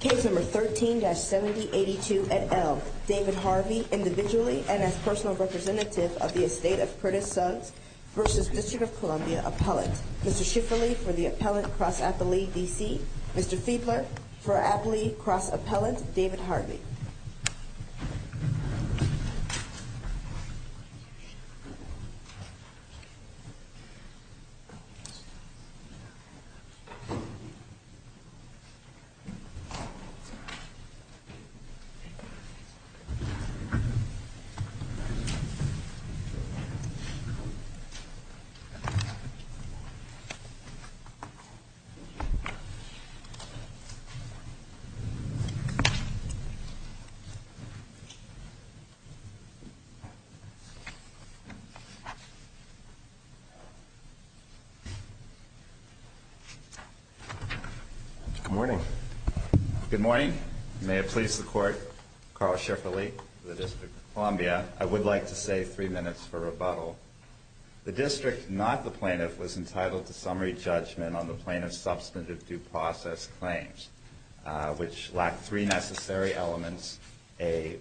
Case No. 13-7082 at Elm, David Harvey individually and as personal representative of the Estate of Curtis Suggs v. District of Columbia Appellant. Mr. Schifferle for the Appellant Cross-Appellee, D.C. Mr. Fiedler for Appellee Cross-Appellant, David Harvey. Mr. Schifferle for Appellee Cross-Appellant, David Harvey. Good morning. Good morning. May it please the Court, Carl Schifferle for the District of Columbia. I would like to say three minutes for rebuttal. The District, not the Plaintiff, was entitled to summary judgment on the Plaintiff's substantive due process claims, which lack three necessary elements, a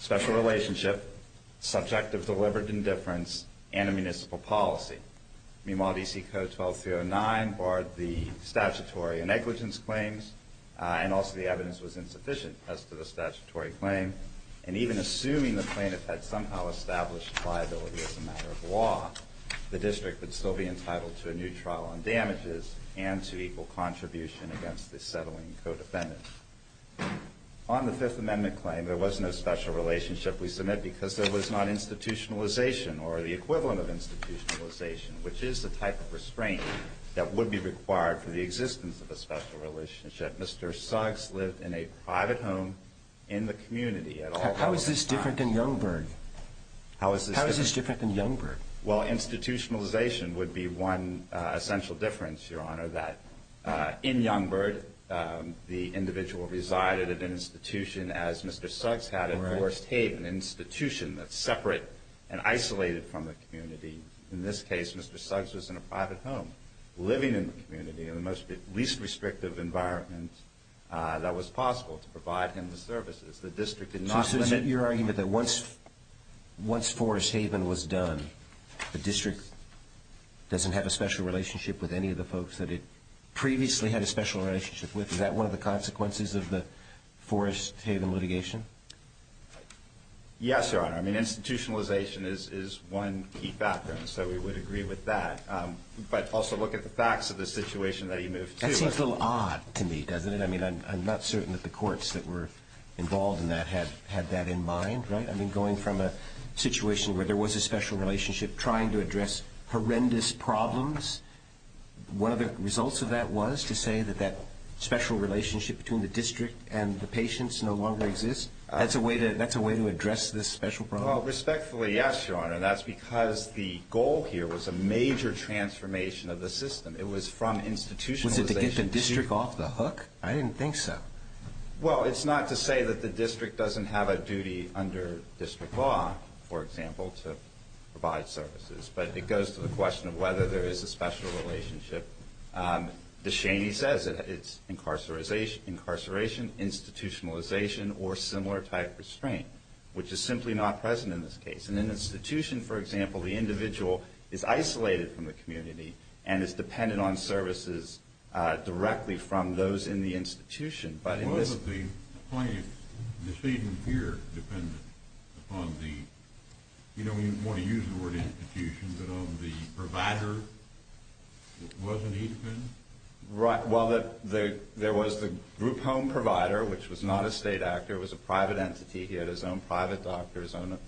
special relationship, subject of delivered indifference, and a municipal policy. Meanwhile, D.C. Code 12309 barred the statutory negligence claims, and also the evidence was insufficient as to the statutory claim. And even assuming the Plaintiff had somehow established liability as a matter of law, the District would still be entitled to a new trial on damages and to equal contribution against the settling codefendant. On the Fifth Amendment claim, there was no special relationship. We submit because there was not institutionalization or the equivalent of institutionalization, which is the type of restraint that would be required for the existence of a special relationship. Mr. Suggs lived in a private home in the community at all times. How is this different than Youngberg? How is this different than Youngberg? Well, institutionalization would be one essential difference, Your Honor, that in Youngberg, the individual resided at an institution as Mr. Suggs had at Forest Haven, an institution that's separate and isolated from the community. In this case, Mr. Suggs was in a private home, living in the community in the least restrictive environment that was possible to provide him the services. So is it your argument that once Forest Haven was done, the District doesn't have a special relationship with any of the folks that it previously had a special relationship with? Is that one of the consequences of the Forest Haven litigation? Yes, Your Honor. I mean, institutionalization is one key background, so we would agree with that. But also look at the facts of the situation that he moved to. That seems a little odd to me, doesn't it? I mean, I'm not certain that the courts that were involved in that had that in mind, right? I mean, going from a situation where there was a special relationship, trying to address horrendous problems, one of the results of that was to say that that special relationship between the District and the patients no longer exists? That's a way to address this special problem? Well, respectfully, yes, Your Honor. That's because the goal here was a major transformation of the system. It was from institutionalization to... I didn't think so. Well, it's not to say that the District doesn't have a duty under District law, for example, to provide services, but it goes to the question of whether there is a special relationship. DeShaney says it's incarceration, institutionalization, or similar type restraint, which is simply not present in this case. In an institution, for example, the individual is isolated from the community and is dependent on services directly from those in the institution. But in this case... Wasn't the plaintiff, DeShaney, here dependent upon the... You know, you want to use the word institution, but on the provider? Wasn't he dependent? Right. Well, there was the group home provider, which was not a state actor. It was a private entity. He had his own private doctors, own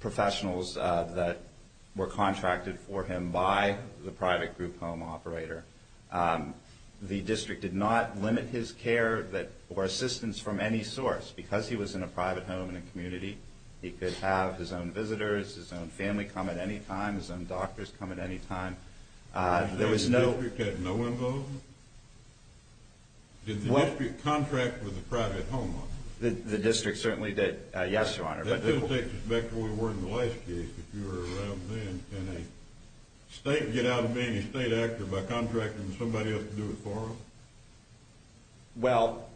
professionals that were contracted for him by the private group home operator. The District did not limit his care or assistance from any source. Because he was in a private home in a community, he could have his own visitors, his own family come at any time, his own doctors come at any time. The District had no involvement? Did the District contract with a private home owner? The District certainly did, yes, Your Honor. That doesn't take us back to where we were in the last case, if you were around then. Can a state get out of being a state actor by contracting somebody else to do it for him? Well,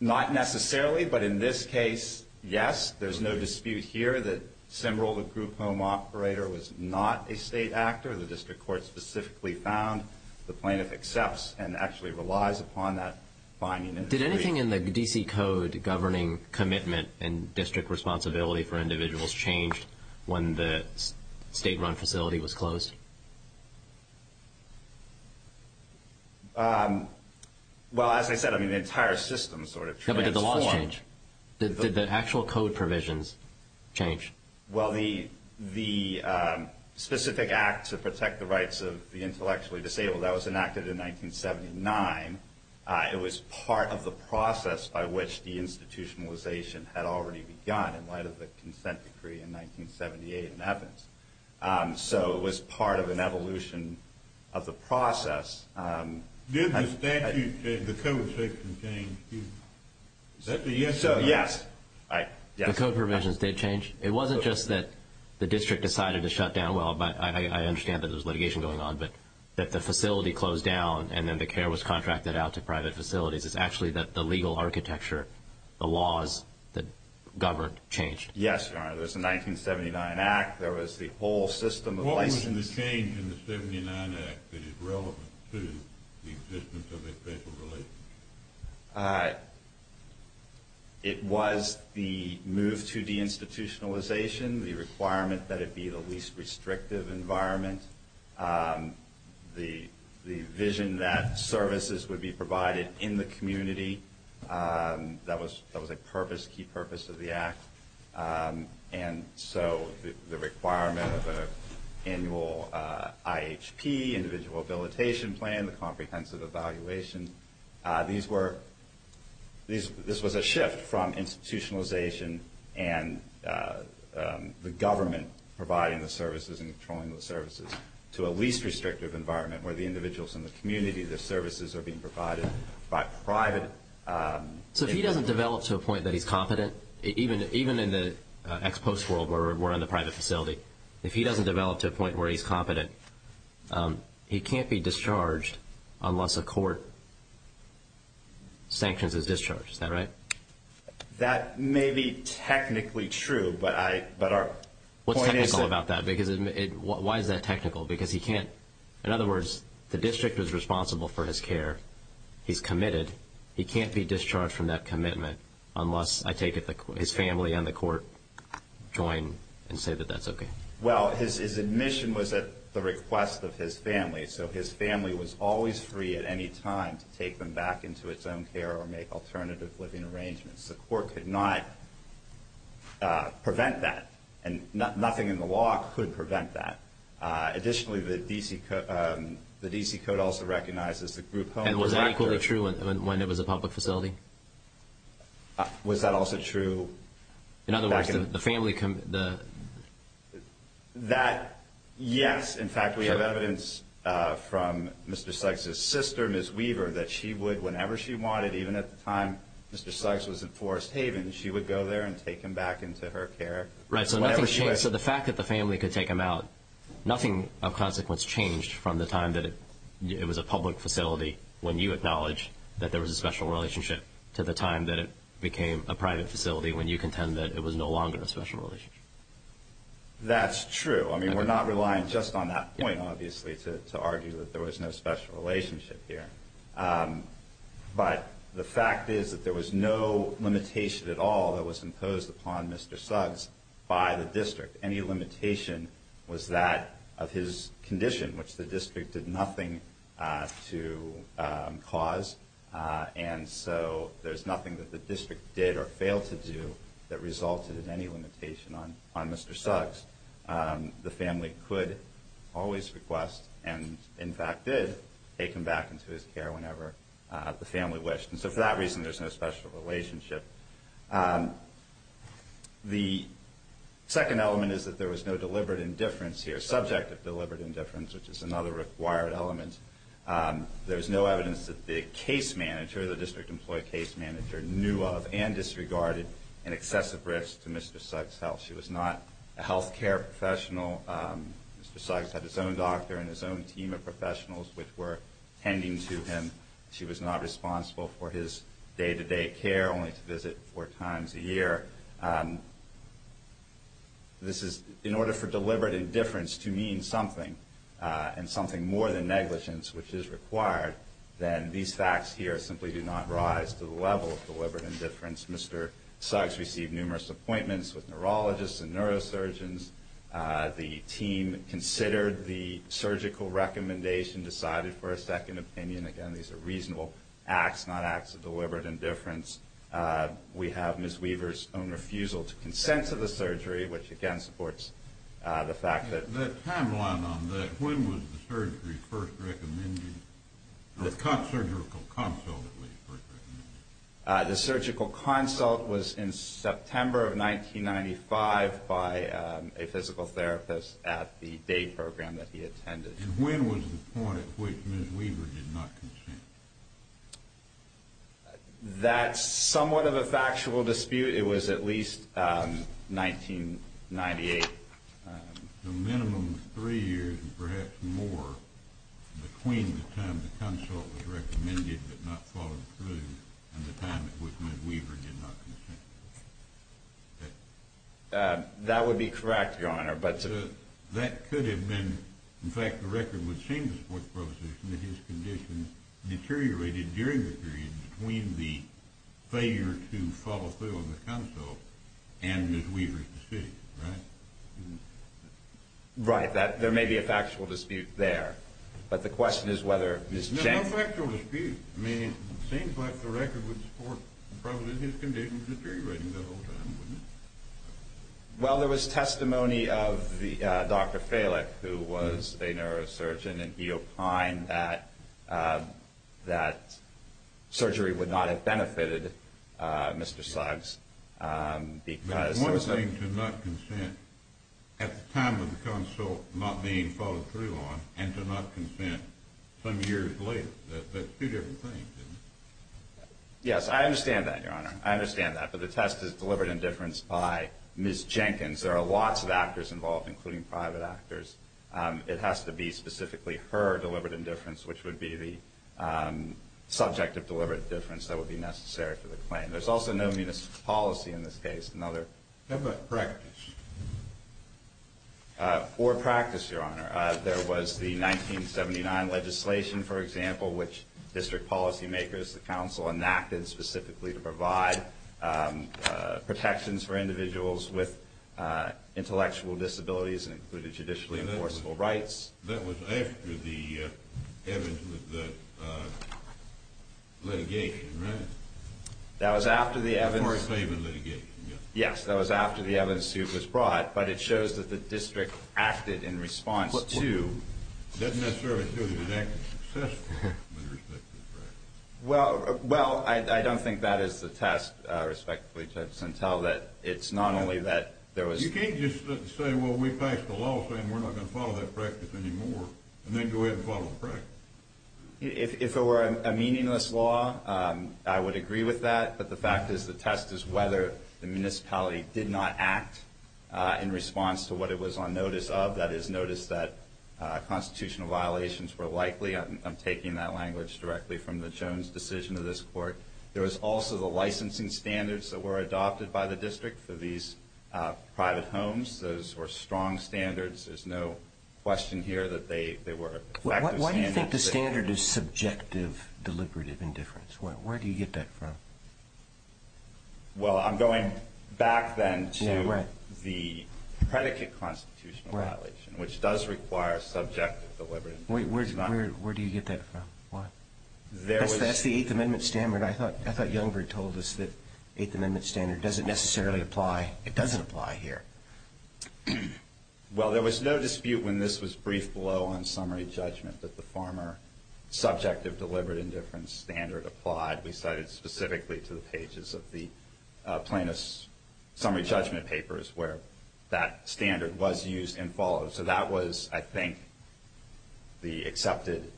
not necessarily. But in this case, yes. There's no dispute here that Semrel, the group home operator, was not a state actor. The District Court specifically found the plaintiff accepts and actually relies upon that finding. Did anything in the D.C. Code governing commitment and District responsibility for individuals change when the state-run facility was closed? Well, as I said, I mean, the entire system sort of transformed. No, but did the laws change? Did the actual code provisions change? Well, the specific act to protect the rights of the intellectually disabled, that was enacted in 1979. It was part of the process by which deinstitutionalization had already begun in light of the consent decree in 1978 in Evans. So it was part of an evolution of the process. Did the statute, the code provisions change? Is that the answer? So, yes. The code provisions did change. It wasn't just that the District decided to shut down. Well, I understand that there was litigation going on, but that the facility closed down and then the care was contracted out to private facilities. It's actually that the legal architecture, the laws that governed, changed. Yes, Your Honor. There was the 1979 Act. There was the whole system of licensing. What was the change in the 79 Act that is relevant to the existence of a special relationship? It was the move to deinstitutionalization, the requirement that it be the least restrictive environment, the vision that services would be provided in the community. That was a key purpose of the Act. And so the requirement of an annual IHP, individual habilitation plan, the comprehensive evaluation, this was a shift from institutionalization and the government providing the services and controlling the services to a least restrictive environment where the individuals in the community, their services are being provided by private. So if he doesn't develop to a point that he's competent, even in the ex-post world where we're in the private facility, he can't be discharged unless a court sanctions his discharge. Is that right? That may be technically true, but our point is that... What's technical about that? Why is that technical? Because he can't, in other words, the district is responsible for his care. He's committed. He can't be discharged from that commitment unless, I take it, his family and the court join and say that that's okay. Well, his admission was at the request of his family, so his family was always free at any time to take them back into its own care or make alternative living arrangements. The court could not prevent that, and nothing in the law could prevent that. Additionally, the D.C. Code also recognizes the group home director... And was that equally true when it was a public facility? Was that also true... In other words, the family... That, yes. In fact, we have evidence from Mr. Sykes' sister, Ms. Weaver, that she would, whenever she wanted, even at the time Mr. Sykes was at Forest Haven, she would go there and take him back into her care. Right, so the fact that the family could take him out, nothing of consequence changed from the time that it was a public facility when you acknowledged that there was a special relationship to the time that it became a private facility when you contend that it was no longer a special relationship. That's true. I mean, we're not relying just on that point, obviously, to argue that there was no special relationship here. But the fact is that there was no limitation at all that was imposed upon Mr. Suggs by the district. Any limitation was that of his condition, which the district did nothing to cause. And so there's nothing that the district did or failed to do that resulted in any limitation on Mr. Suggs. The family could always request, and in fact did, take him back into his care whenever the family wished. And so for that reason, there's no special relationship. The second element is that there was no deliberate indifference here, subject of deliberate indifference, which is another required element. There's no evidence that the case manager, the district employee case manager, knew of and disregarded an excessive risk to Mr. Suggs' health. She was not a health care professional. Mr. Suggs had his own doctor and his own team of professionals which were tending to him. She was not responsible for his day-to-day care, only to visit four times a year. In order for deliberate indifference to mean something, and something more than negligence, which is required, then these facts here simply do not rise to the level of deliberate indifference. Mr. Suggs received numerous appointments with neurologists and neurosurgeons. The team considered the surgical recommendation, decided for a second opinion. Again, these are reasonable acts, not acts of deliberate indifference. We have Ms. Weaver's own refusal to consent to the surgery, which again supports the fact that... That timeline on that, when was the surgery first recommended? The surgical consult was first recommended. The surgical consult was in September of 1995 by a physical therapist at the day program that he attended. And when was the point at which Ms. Weaver did not consent? That's somewhat of a factual dispute. It was at least 1998. The minimum of three years, and perhaps more, between the time the consult was recommended but not followed through and the time at which Ms. Weaver did not consent. That would be correct, Your Honor, but... That could have been... In fact, the record would seem to support the proposition that his condition deteriorated during the period between the failure to follow through on the consult and Ms. Weaver's dispute, right? Right. There may be a factual dispute there. But the question is whether Ms. Jane... No factual dispute. I mean, it seems like the record would support probably his condition deteriorating the whole time, wouldn't it? Well, there was testimony of Dr. Falick, who was a neurosurgeon, and he opined that surgery would not have benefited Mr. Suggs because... But one thing to not consent at the time of the consult not being followed through on and to not consent some years later. That's two different things, isn't it? Yes, I understand that, Your Honor. I understand that. But the test is deliberate indifference by Ms. Jenkins. There are lots of actors involved, including private actors. It has to be specifically her deliberate indifference, which would be the subject of deliberate indifference that would be necessary for the claim. There's also no municipal policy in this case. Another... How about practice? Or practice, Your Honor. There was the 1979 legislation, for example, which district policymakers, the council, enacted specifically to provide protections for individuals with intellectual disabilities and included judicially enforceable rights. That was after the litigation, right? That was after the evidence... Before a claim in litigation, yes. Yes, that was after the evidence suit was brought, but it shows that the district acted in response to... It doesn't necessarily show that it was successful with respect to the practice. Well, I don't think that is the test, respectfully, until it's not only that there was... You can't just say, well, we passed a law saying we're not going to follow that practice anymore and then go ahead and follow the practice. If it were a meaningless law, I would agree with that, but the fact is the test is whether the municipality did not act in response to what it was on notice of, that is, notice that constitutional violations were likely. I'm taking that language directly from the Jones decision of this court. There was also the licensing standards that were adopted by the district for these private homes. Those were strong standards. There's no question here that they were effective standards. Why do you think the standard is subjective deliberative indifference? Where do you get that from? Well, I'm going back then to the predicate constitutional violation, which does require subjective deliberative indifference. Wait, where do you get that from? That's the Eighth Amendment standard. I thought Youngberg told us that the Eighth Amendment standard doesn't necessarily apply. It doesn't apply here. Well, there was no dispute when this was briefed below on summary judgment that the former subjective deliberate indifference standard applied. We cited it specifically to the pages of the plaintiff's summary judgment papers where that standard was used and followed. So that was, I think, the accepted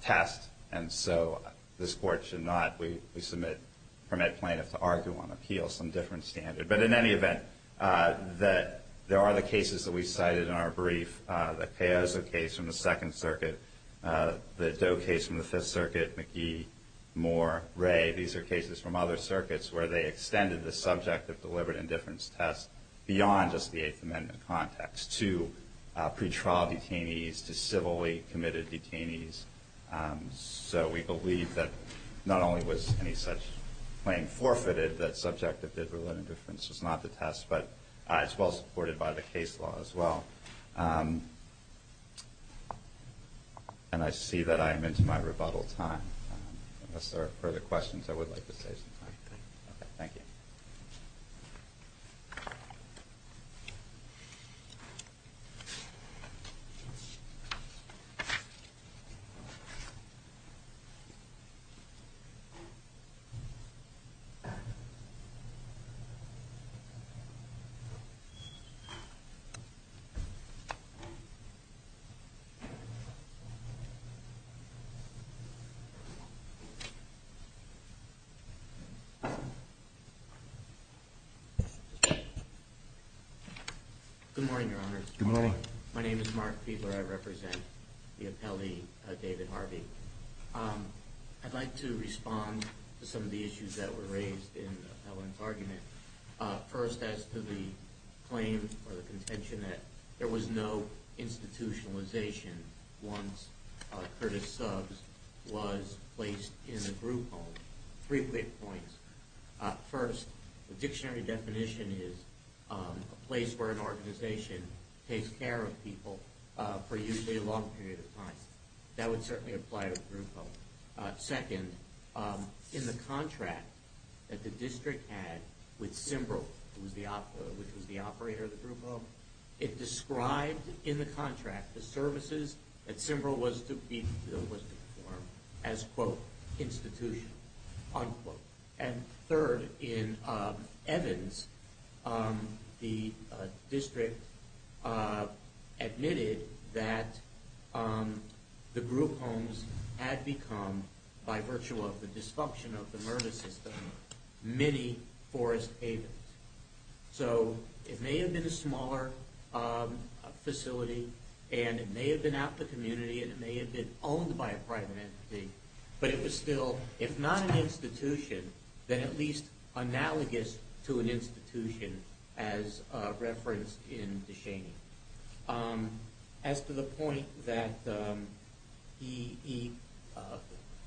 test, and so this Court should not, we submit, permit plaintiffs to argue on appeal some different standard. But in any event, there are the cases that we cited in our brief, the Caiozo case from the Second Circuit, the Doe case from the Fifth Circuit, McGee, Moore, Ray. These are cases from other circuits where they extended the subjective deliberate indifference test beyond just the Eighth Amendment context to pretrial detainees, to civilly committed detainees. So we believe that not only was any such claim forfeited, that subjective deliberate indifference was not the test, but it's well supported by the case law as well. And I see that I am into my rebuttal time. Unless there are further questions, I would like to save some time. Thank you. Thank you. Good morning, Your Honor. Good morning. My name is Mark Fiedler. I represent the appellee, David Harvey. I'd like to respond to some of the issues that were raised in the appellant's argument. First, as to the claim or the contention that there was no institutionalization once Curtis Subs was placed in a group home. Three quick points. First, the dictionary definition is a place where an organization takes care of people for usually a long period of time. That would certainly apply to a group home. Second, in the contract that the district had with CIMBRL, which was the operator of the group home, it described in the contract the services that CIMBRL was to perform as, quote, institution, unquote. And third, in Evans, the district admitted that the group homes had become, by virtue of the dysfunction of the murder system, mini forest havens. So it may have been a smaller facility, and it may have been out in the community, and it may have been owned by a private entity, but it was still, if not an institution, then at least analogous to an institution as referenced in DeShaney. As to the point that he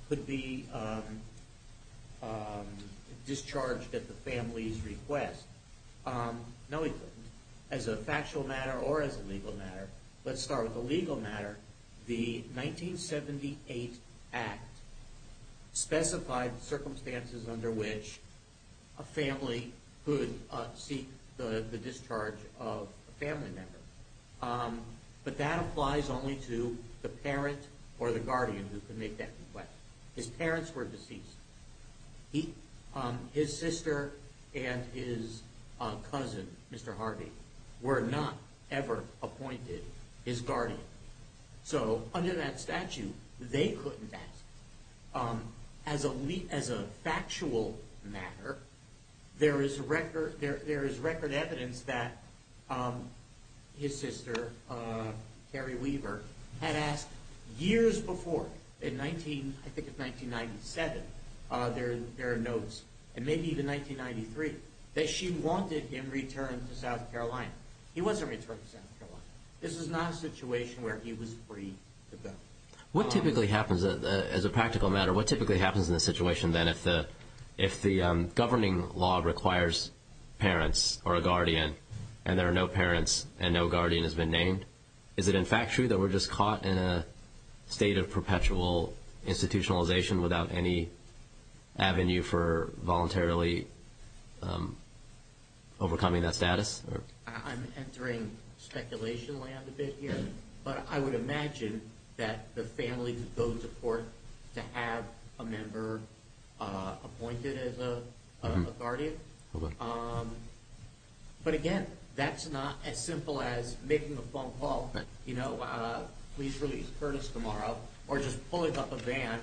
could be discharged at the family's request, no, he couldn't. As a factual matter or as a legal matter, let's start with the legal matter. The 1978 Act specified circumstances under which a family could seek the discharge of a family member. But that applies only to the parent or the guardian who could make that request. His parents were deceased. His sister and his cousin, Mr. Harvey, were not ever appointed his guardian. So under that statute, they couldn't ask. As a factual matter, there is record evidence that his sister, Carrie Weaver, had asked years before, I think it was 1997, there are notes, and maybe even 1993, that she wanted him returned to South Carolina. He wasn't returned to South Carolina. This is not a situation where he was free to go. What typically happens, as a practical matter, what typically happens in this situation then if the governing law requires parents or a guardian and there are no parents and no guardian has been named? Is it in fact true that we're just caught in a state of perpetual institutionalization without any avenue for voluntarily overcoming that status? I'm entering speculation land a bit here. But I would imagine that the family could go to court to have a member appointed as a guardian. But again, that's not as simple as making a phone call, you know, please release Curtis tomorrow, or just pulling up a van,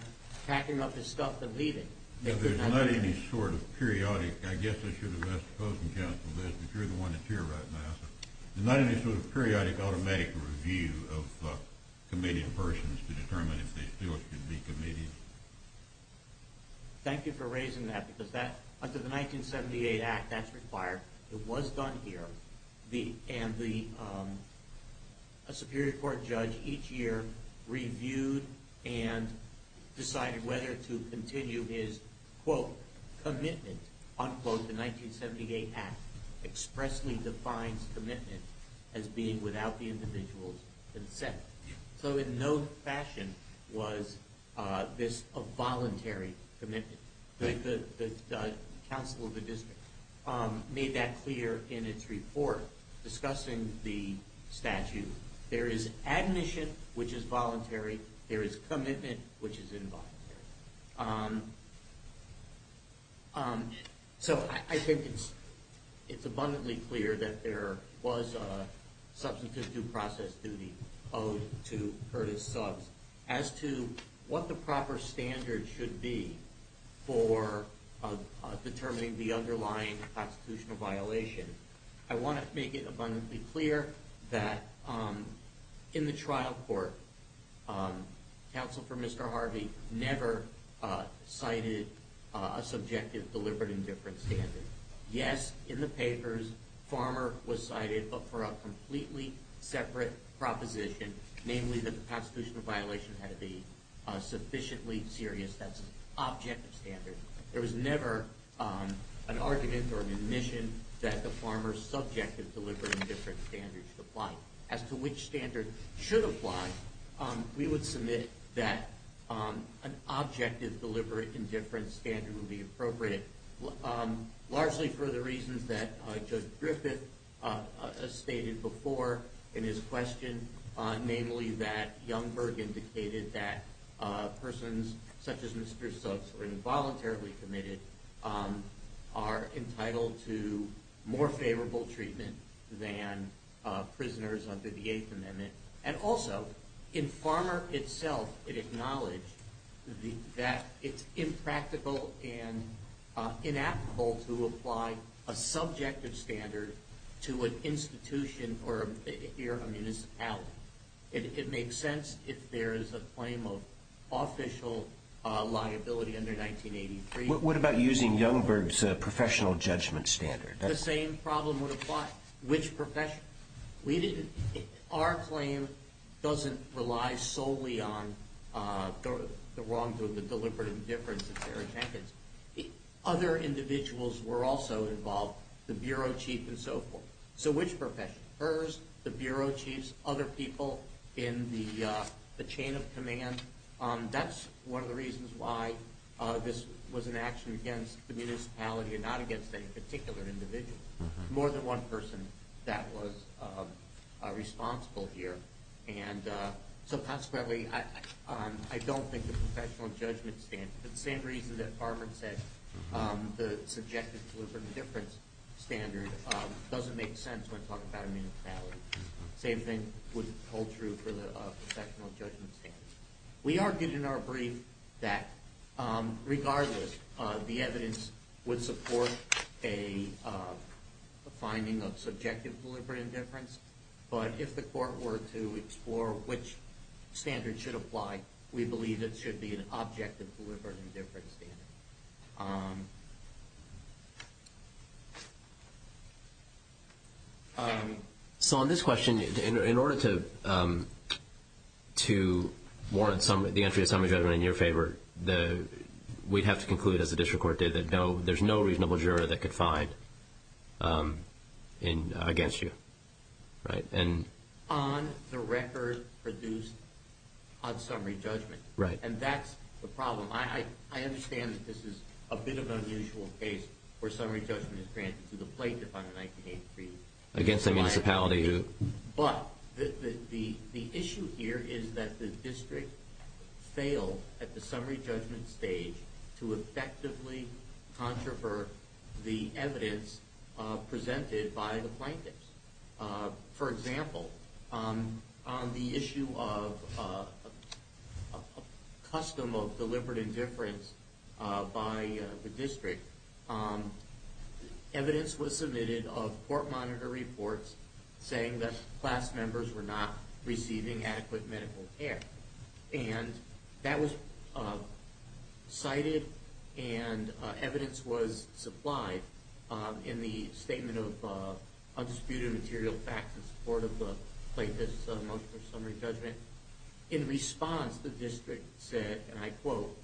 packing up his stuff and leaving. There's not any sort of periodic, I guess I should have asked the opposing counsel this, but you're the one that's here right now. There's not any sort of periodic automatic review of committed persons to determine if they still should be committed. Thank you for raising that, because under the 1978 Act that's required. It was done here. And a Superior Court judge each year reviewed and decided whether to continue his, quote, commitment, unquote. The 1978 Act expressly defines commitment as being without the individual's consent. So in no fashion was this a voluntary commitment. The counsel of the district made that clear in its report discussing the statute. There is admission, which is voluntary. There is commitment, which is involuntary. So I think it's abundantly clear that there was a substantive due process duty owed to Curtis Subbs as to what the proper standard should be for determining the underlying constitutional violation. I want to make it abundantly clear that in the trial court, counsel for Mr. Harvey never cited a subjective, deliberate, indifferent standard. Yes, in the papers, Farmer was cited, but for a completely separate proposition, namely that the constitutional violation had to be sufficiently serious. That's an objective standard. There was never an argument or an admission that the Farmer's subjective, deliberate, indifferent standard should apply. As to which standard should apply, we would submit that an objective, deliberate, indifferent standard would be appropriate, largely for the reasons that Judge Griffith stated before in his question namely that Youngberg indicated that persons such as Mr. Subbs were involuntarily committed are entitled to more favorable treatment than prisoners under the Eighth Amendment. And also, in Farmer itself, it acknowledged that it's impractical and inapplicable to apply a subjective standard to an institution or a municipality. It makes sense if there is a claim of official liability under 1983. What about using Youngberg's professional judgment standard? The same problem would apply. Which profession? Our claim doesn't rely solely on the wrong or the deliberate indifference of Sarah Jenkins. Other individuals were also involved. The bureau chief and so forth. So which profession? Hers? The bureau chiefs? Other people in the chain of command? That's one of the reasons why this was an action against the municipality and not against any particular individual. More than one person that was responsible here. And so possibly, I don't think the professional judgment standard is the same reason that Farmer said the subjective deliberate indifference standard doesn't make sense when talking about a municipality. Same thing would hold true for the professional judgment standard. We argued in our brief that regardless, the evidence would support a finding of subjective deliberate indifference. But if the court were to explore which standard should apply, we believe it should be an objective deliberate indifference standard. So on this question, in order to warrant the entry of summary judgment in your favor, we'd have to conclude, as the district court did, that there's no reasonable juror that could find against you. On the record produced on summary judgment. Right. And that's the problem. I understand that this is a bit of an unusual case where summary judgment is granted to the plaintiff on a 19-8 brief. Against the municipality who? But the issue here is that the district failed at the summary judgment stage to effectively controvert the evidence presented by the plaintiffs. For example, on the issue of custom of deliberate indifference by the district, evidence was submitted of court monitor reports saying that class members were not receiving adequate medical care. And that was cited and evidence was supplied in the statement of undisputed material facts in support of the plaintiff's motion for summary judgment. In response, the district said, and I quote,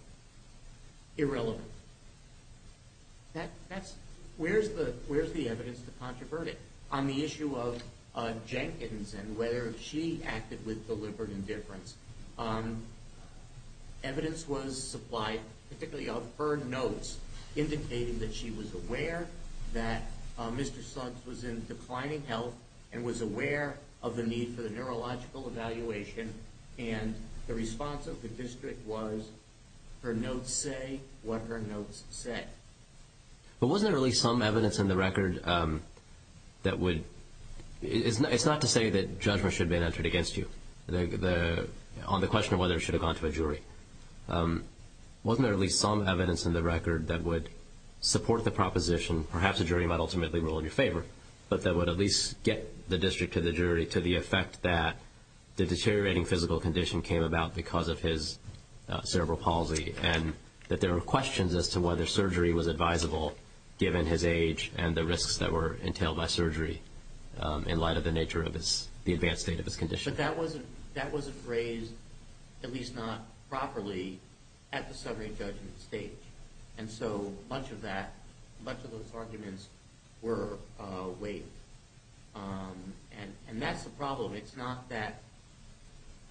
irrelevant. Where's the evidence to controvert it? On the issue of Jenkins and whether she acted with deliberate indifference, evidence was supplied, particularly of her notes, indicating that she was aware that Mr. Suggs was in declining health and was aware of the need for the neurological evaluation. And the response of the district was, her notes say what her notes say. But wasn't there at least some evidence in the record that would – it's not to say that judgment should have been entered against you on the question of whether it should have gone to a jury. Wasn't there at least some evidence in the record that would support the proposition, perhaps a jury might ultimately rule in your favor, but that would at least get the district to the jury to the effect that the deteriorating physical condition came about because of his cerebral palsy and that there were questions as to whether surgery was advisable given his age and the risks that were entailed by surgery in light of the nature of the advanced state of his condition. But that wasn't raised, at least not properly, at the summary judgment stage. And so much of that, much of those arguments were weighed. And that's the problem. It's not that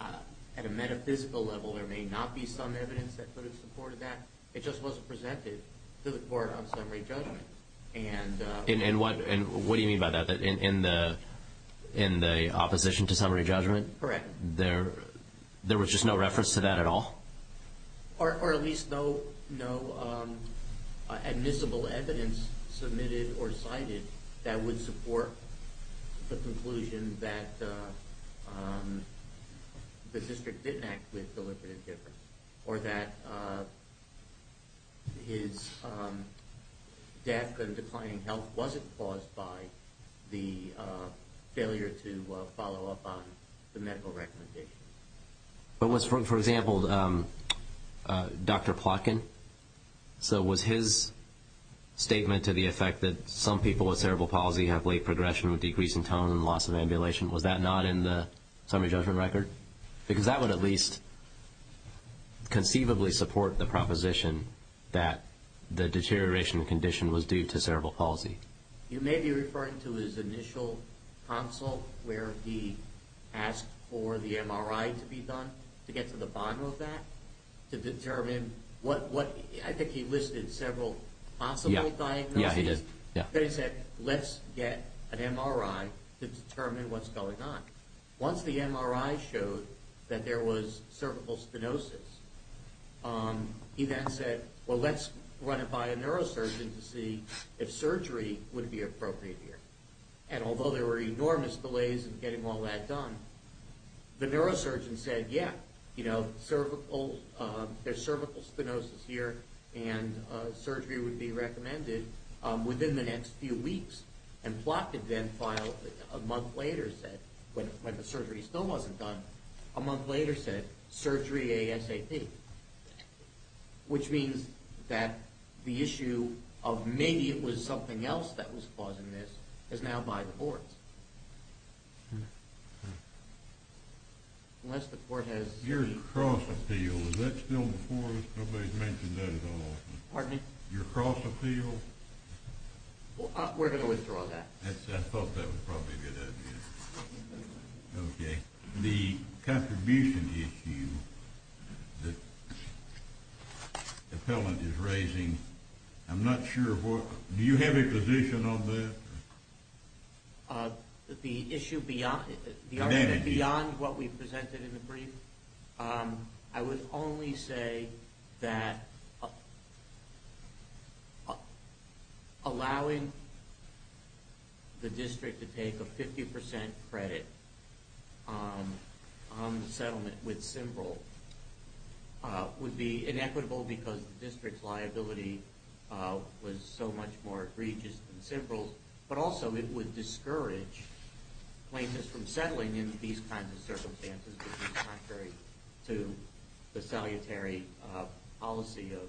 at a metaphysical level there may not be some evidence that could have supported that. It just wasn't presented to the court on summary judgment. And what do you mean by that? In the opposition to summary judgment? Correct. There was just no reference to that at all? Or at least no admissible evidence submitted or cited that would support the conclusion that the district didn't act with deliberate indifference or that his death and declining health wasn't caused by the failure to follow up on the medical recommendations? But was, for example, Dr. Plotkin, so was his statement to the effect that some people with cerebral palsy have late progression with decreasing tone and loss of ambulation, was that not in the summary judgment record? Because that would at least conceivably support the proposition that the deterioration of the condition was due to cerebral palsy. You may be referring to his initial consult where he asked for the MRI to be done to get to the bottom of that to determine what, I think he listed several possible diagnoses. Yeah, he did. Then he said, let's get an MRI to determine what's going on. Once the MRI showed that there was cervical stenosis, he then said, well, let's run it by a neurosurgeon to see if surgery would be appropriate here. And although there were enormous delays in getting all that done, the neurosurgeon said, yeah, there's cervical stenosis here and surgery would be recommended within the next few weeks. And Plotkin then filed, a month later said, when the surgery still wasn't done, a month later said, surgery ASAP. Which means that the issue of maybe it was something else that was causing this is now by the courts. Unless the court has... Your cross appeal, is that still before us? Nobody's mentioned that at all. Pardon me? Your cross appeal? We're going to withdraw that. I thought that was probably a good idea. Okay. The contribution issue that the appellant is raising, I'm not sure what... Do you have a position on that? The issue beyond what we presented in the brief, I would only say that allowing the district to take a 50% credit on the settlement with Symbryl would be inequitable because the district's liability was so much more egregious than Symbryl, but also it would discourage claims from settling in these kinds of circumstances which is contrary to the salutary policy of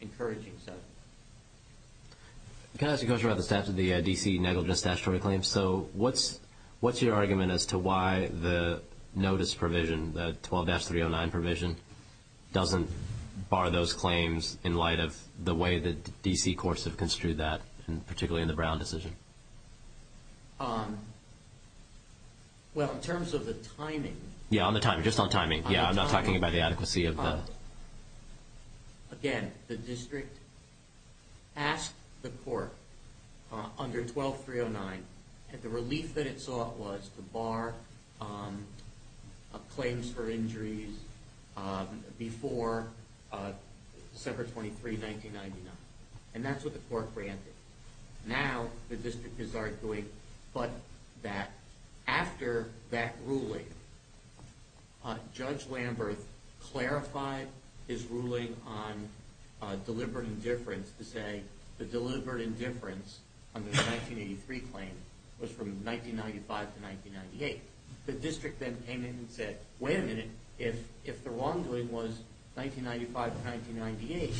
encouraging settlement. Can I ask a question about the statute, the D.C. negligence statutory claims? So what's your argument as to why the notice provision, the 12-309 provision, doesn't bar those claims in light of the way that D.C. courts have construed that, particularly in the Brown decision? Well, in terms of the timing... Yeah, on the timing, just on timing. Yeah, I'm not talking about the adequacy of the... Again, the district asked the court under 12-309, and the relief that it sought was to bar claims for injuries before December 23, 1999. And that's what the court granted. Now the district is arguing but that after that ruling, Judge Lamberth clarified his ruling on deliberate indifference to say the deliberate indifference under the 1983 claim was from 1995 to 1998. The district then came in and said, wait a minute, if the wrongdoing was 1995 to 1998,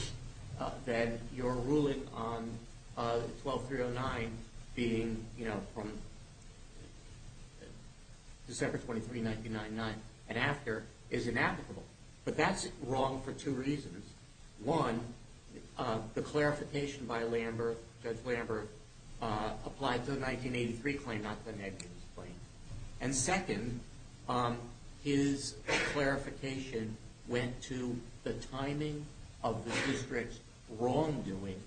then your ruling on 12-309 being from December 23, 1999 and after is inapplicable. But that's wrong for two reasons. One, the clarification by Judge Lamberth applied to the 1983 claim, not the negligence claim. And second, his clarification went to the timing of the district's wrongdoing,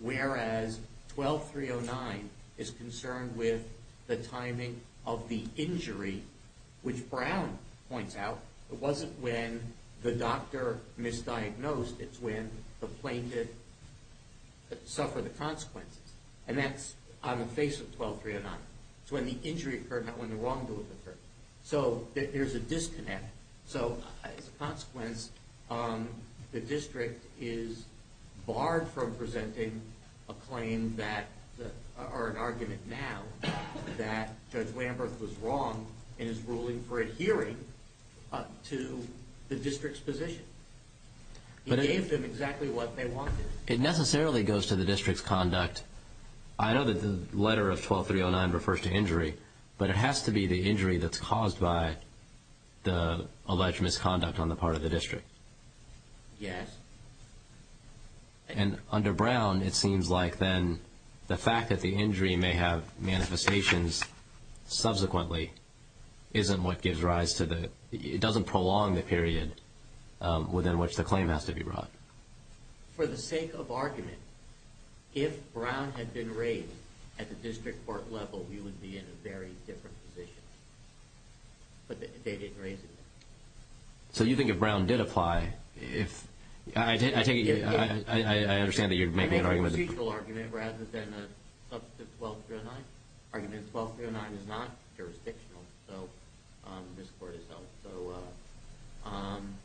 whereas 12-309 is concerned with the timing of the injury, which Brown points out, it wasn't when the doctor misdiagnosed, it's when the plaintiff suffered the consequences. And that's on the face of 12-309. It's when the injury occurred, not when the wrongdoing occurred. So there's a disconnect. So as a consequence, the district is barred from presenting an argument now that Judge Lamberth was wrong in his ruling for adhering to the district's position. He gave them exactly what they wanted. It necessarily goes to the district's conduct. I know that the letter of 12-309 refers to injury, but it has to be the injury that's caused by the alleged misconduct on the part of the district. Yes. And under Brown, it seems like then the fact that the injury may have manifestations subsequently isn't what gives rise to the – it doesn't prolong the period within which the claim has to be brought. For the sake of argument, if Brown had been raised at the district court level, we would be in a very different position. But they didn't raise it. So you think if Brown did apply, if – I take it you – I understand that you're making an argument. They made a procedural argument rather than a substantive 12-309. Argument 12-309 is not jurisdictional, so this court is held. So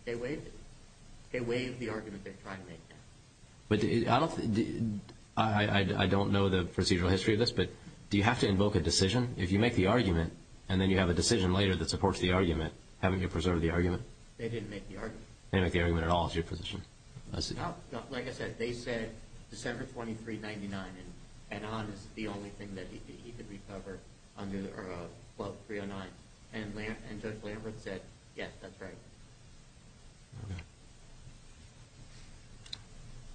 they waived it. They waived the argument they're trying to make now. But I don't – I don't know the procedural history of this, but do you have to invoke a decision? If you make the argument and then you have a decision later that supports the argument, haven't you preserved the argument? They didn't make the argument. They didn't make the argument at all. It's your position. Like I said, they said December 2399 and on is the only thing that he could recover under 12-309. And Judge Lambert said, yes, that's right. Okay.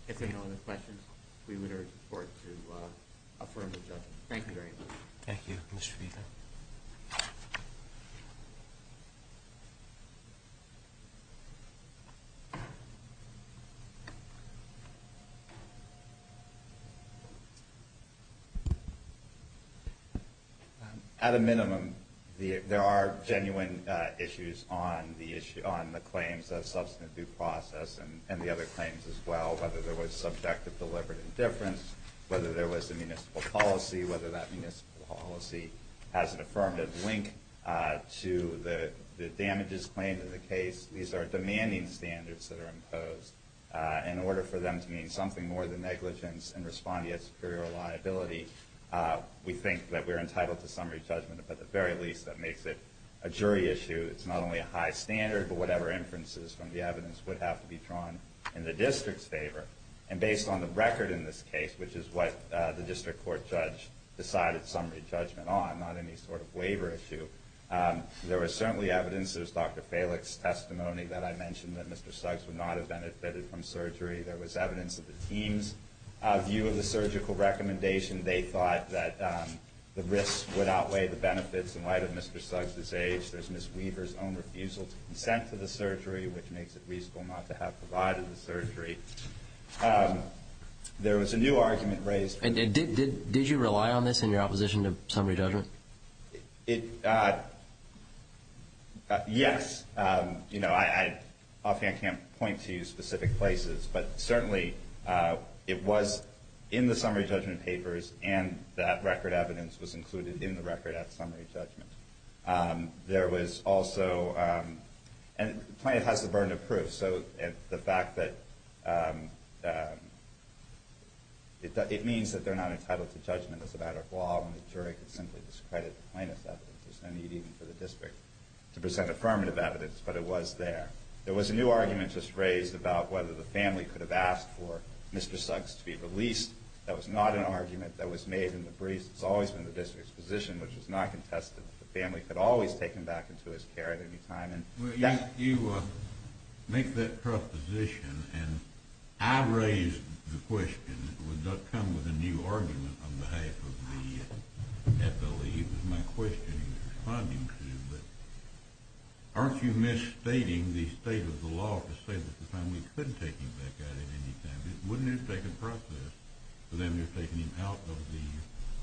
If there are no other questions, we would urge the court to affirm the judgment. Thank you very much. Thank you. Mr. Peter. At a minimum, there are genuine issues on the claims of substantive due process and the other claims as well, whether there was subjective deliberate indifference, whether there was a municipal policy, whether that municipal policy has an affirmative link to the damages claimed in the case. These are demanding standards that are imposed. In order for them to mean something more than negligence and respond to yet superior liability, we think that we're entitled to summary judgment. But at the very least, that makes it a jury issue. It's not only a high standard, but whatever inferences from the evidence would have to be drawn in the district's favor. And based on the record in this case, which is what the district court judge decided summary judgment on, not any sort of waiver issue, there was certainly evidence. There was Dr. Falick's testimony that I mentioned that Mr. Suggs would not have benefited from surgery. There was evidence of the team's view of the surgical recommendation. They thought that the risk would outweigh the benefits in light of Mr. Suggs' age. There's Ms. Weaver's own refusal to consent to the surgery, which makes it reasonable not to have provided the surgery. There was a new argument raised. Did you rely on this in your opposition to summary judgment? Yes. You know, I can't point to specific places, but certainly it was in the summary judgment papers, and that record evidence was included in the record at summary judgment. There was also, and the plaintiff has the burden of proof. The fact that it means that they're not entitled to judgment is a matter of law, and the jury could simply discredit the plaintiff's evidence. There's no need even for the district to present affirmative evidence, but it was there. There was a new argument just raised about whether the family could have asked for Mr. Suggs to be released. That was not an argument that was made in the briefs. It's always been the district's position, which was not contested, that the family could always take him back into his care at any time. Well, you make that proposition, and I raised the question. It would not come with a new argument on behalf of the FLE. It was my question in responding to, but aren't you misstating the state of the law to say that the family could take him back at any time? Wouldn't it take a process for them to have taken him out of the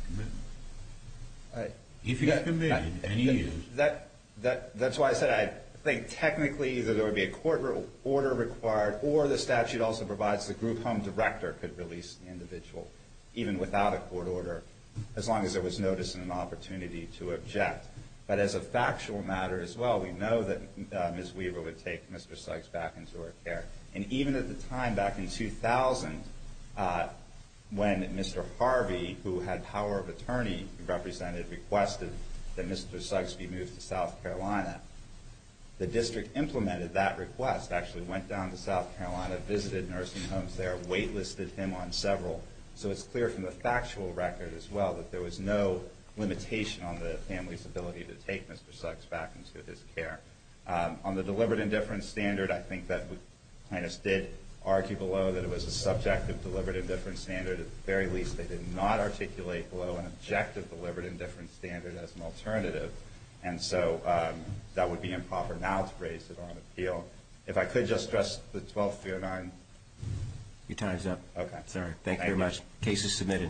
commitment? If he's committed, and he is. That's why I said I think technically either there would be a court order required or the statute also provides the group home director could release the individual, even without a court order, as long as there was notice and an opportunity to object. But as a factual matter as well, we know that Ms. Weaver would take Mr. Suggs back into her care. And even at the time, back in 2000, when Mr. Harvey, who had power of attorney, represented, requested that Mr. Suggs be moved to South Carolina, the district implemented that request, actually went down to South Carolina, visited nursing homes there, wait-listed him on several. So it's clear from the factual record as well that there was no limitation on the family's ability to take Mr. Suggs back into his care. On the delivered indifference standard, I think that we kind of did argue below that it was a subjective delivered indifference standard. At the very least, they did not articulate below an objective delivered indifference standard as an alternative, and so that would be improper now to raise it on appeal. If I could just stress the 12309. Your time is up. Okay. Sorry. Thank you very much. Case is submitted.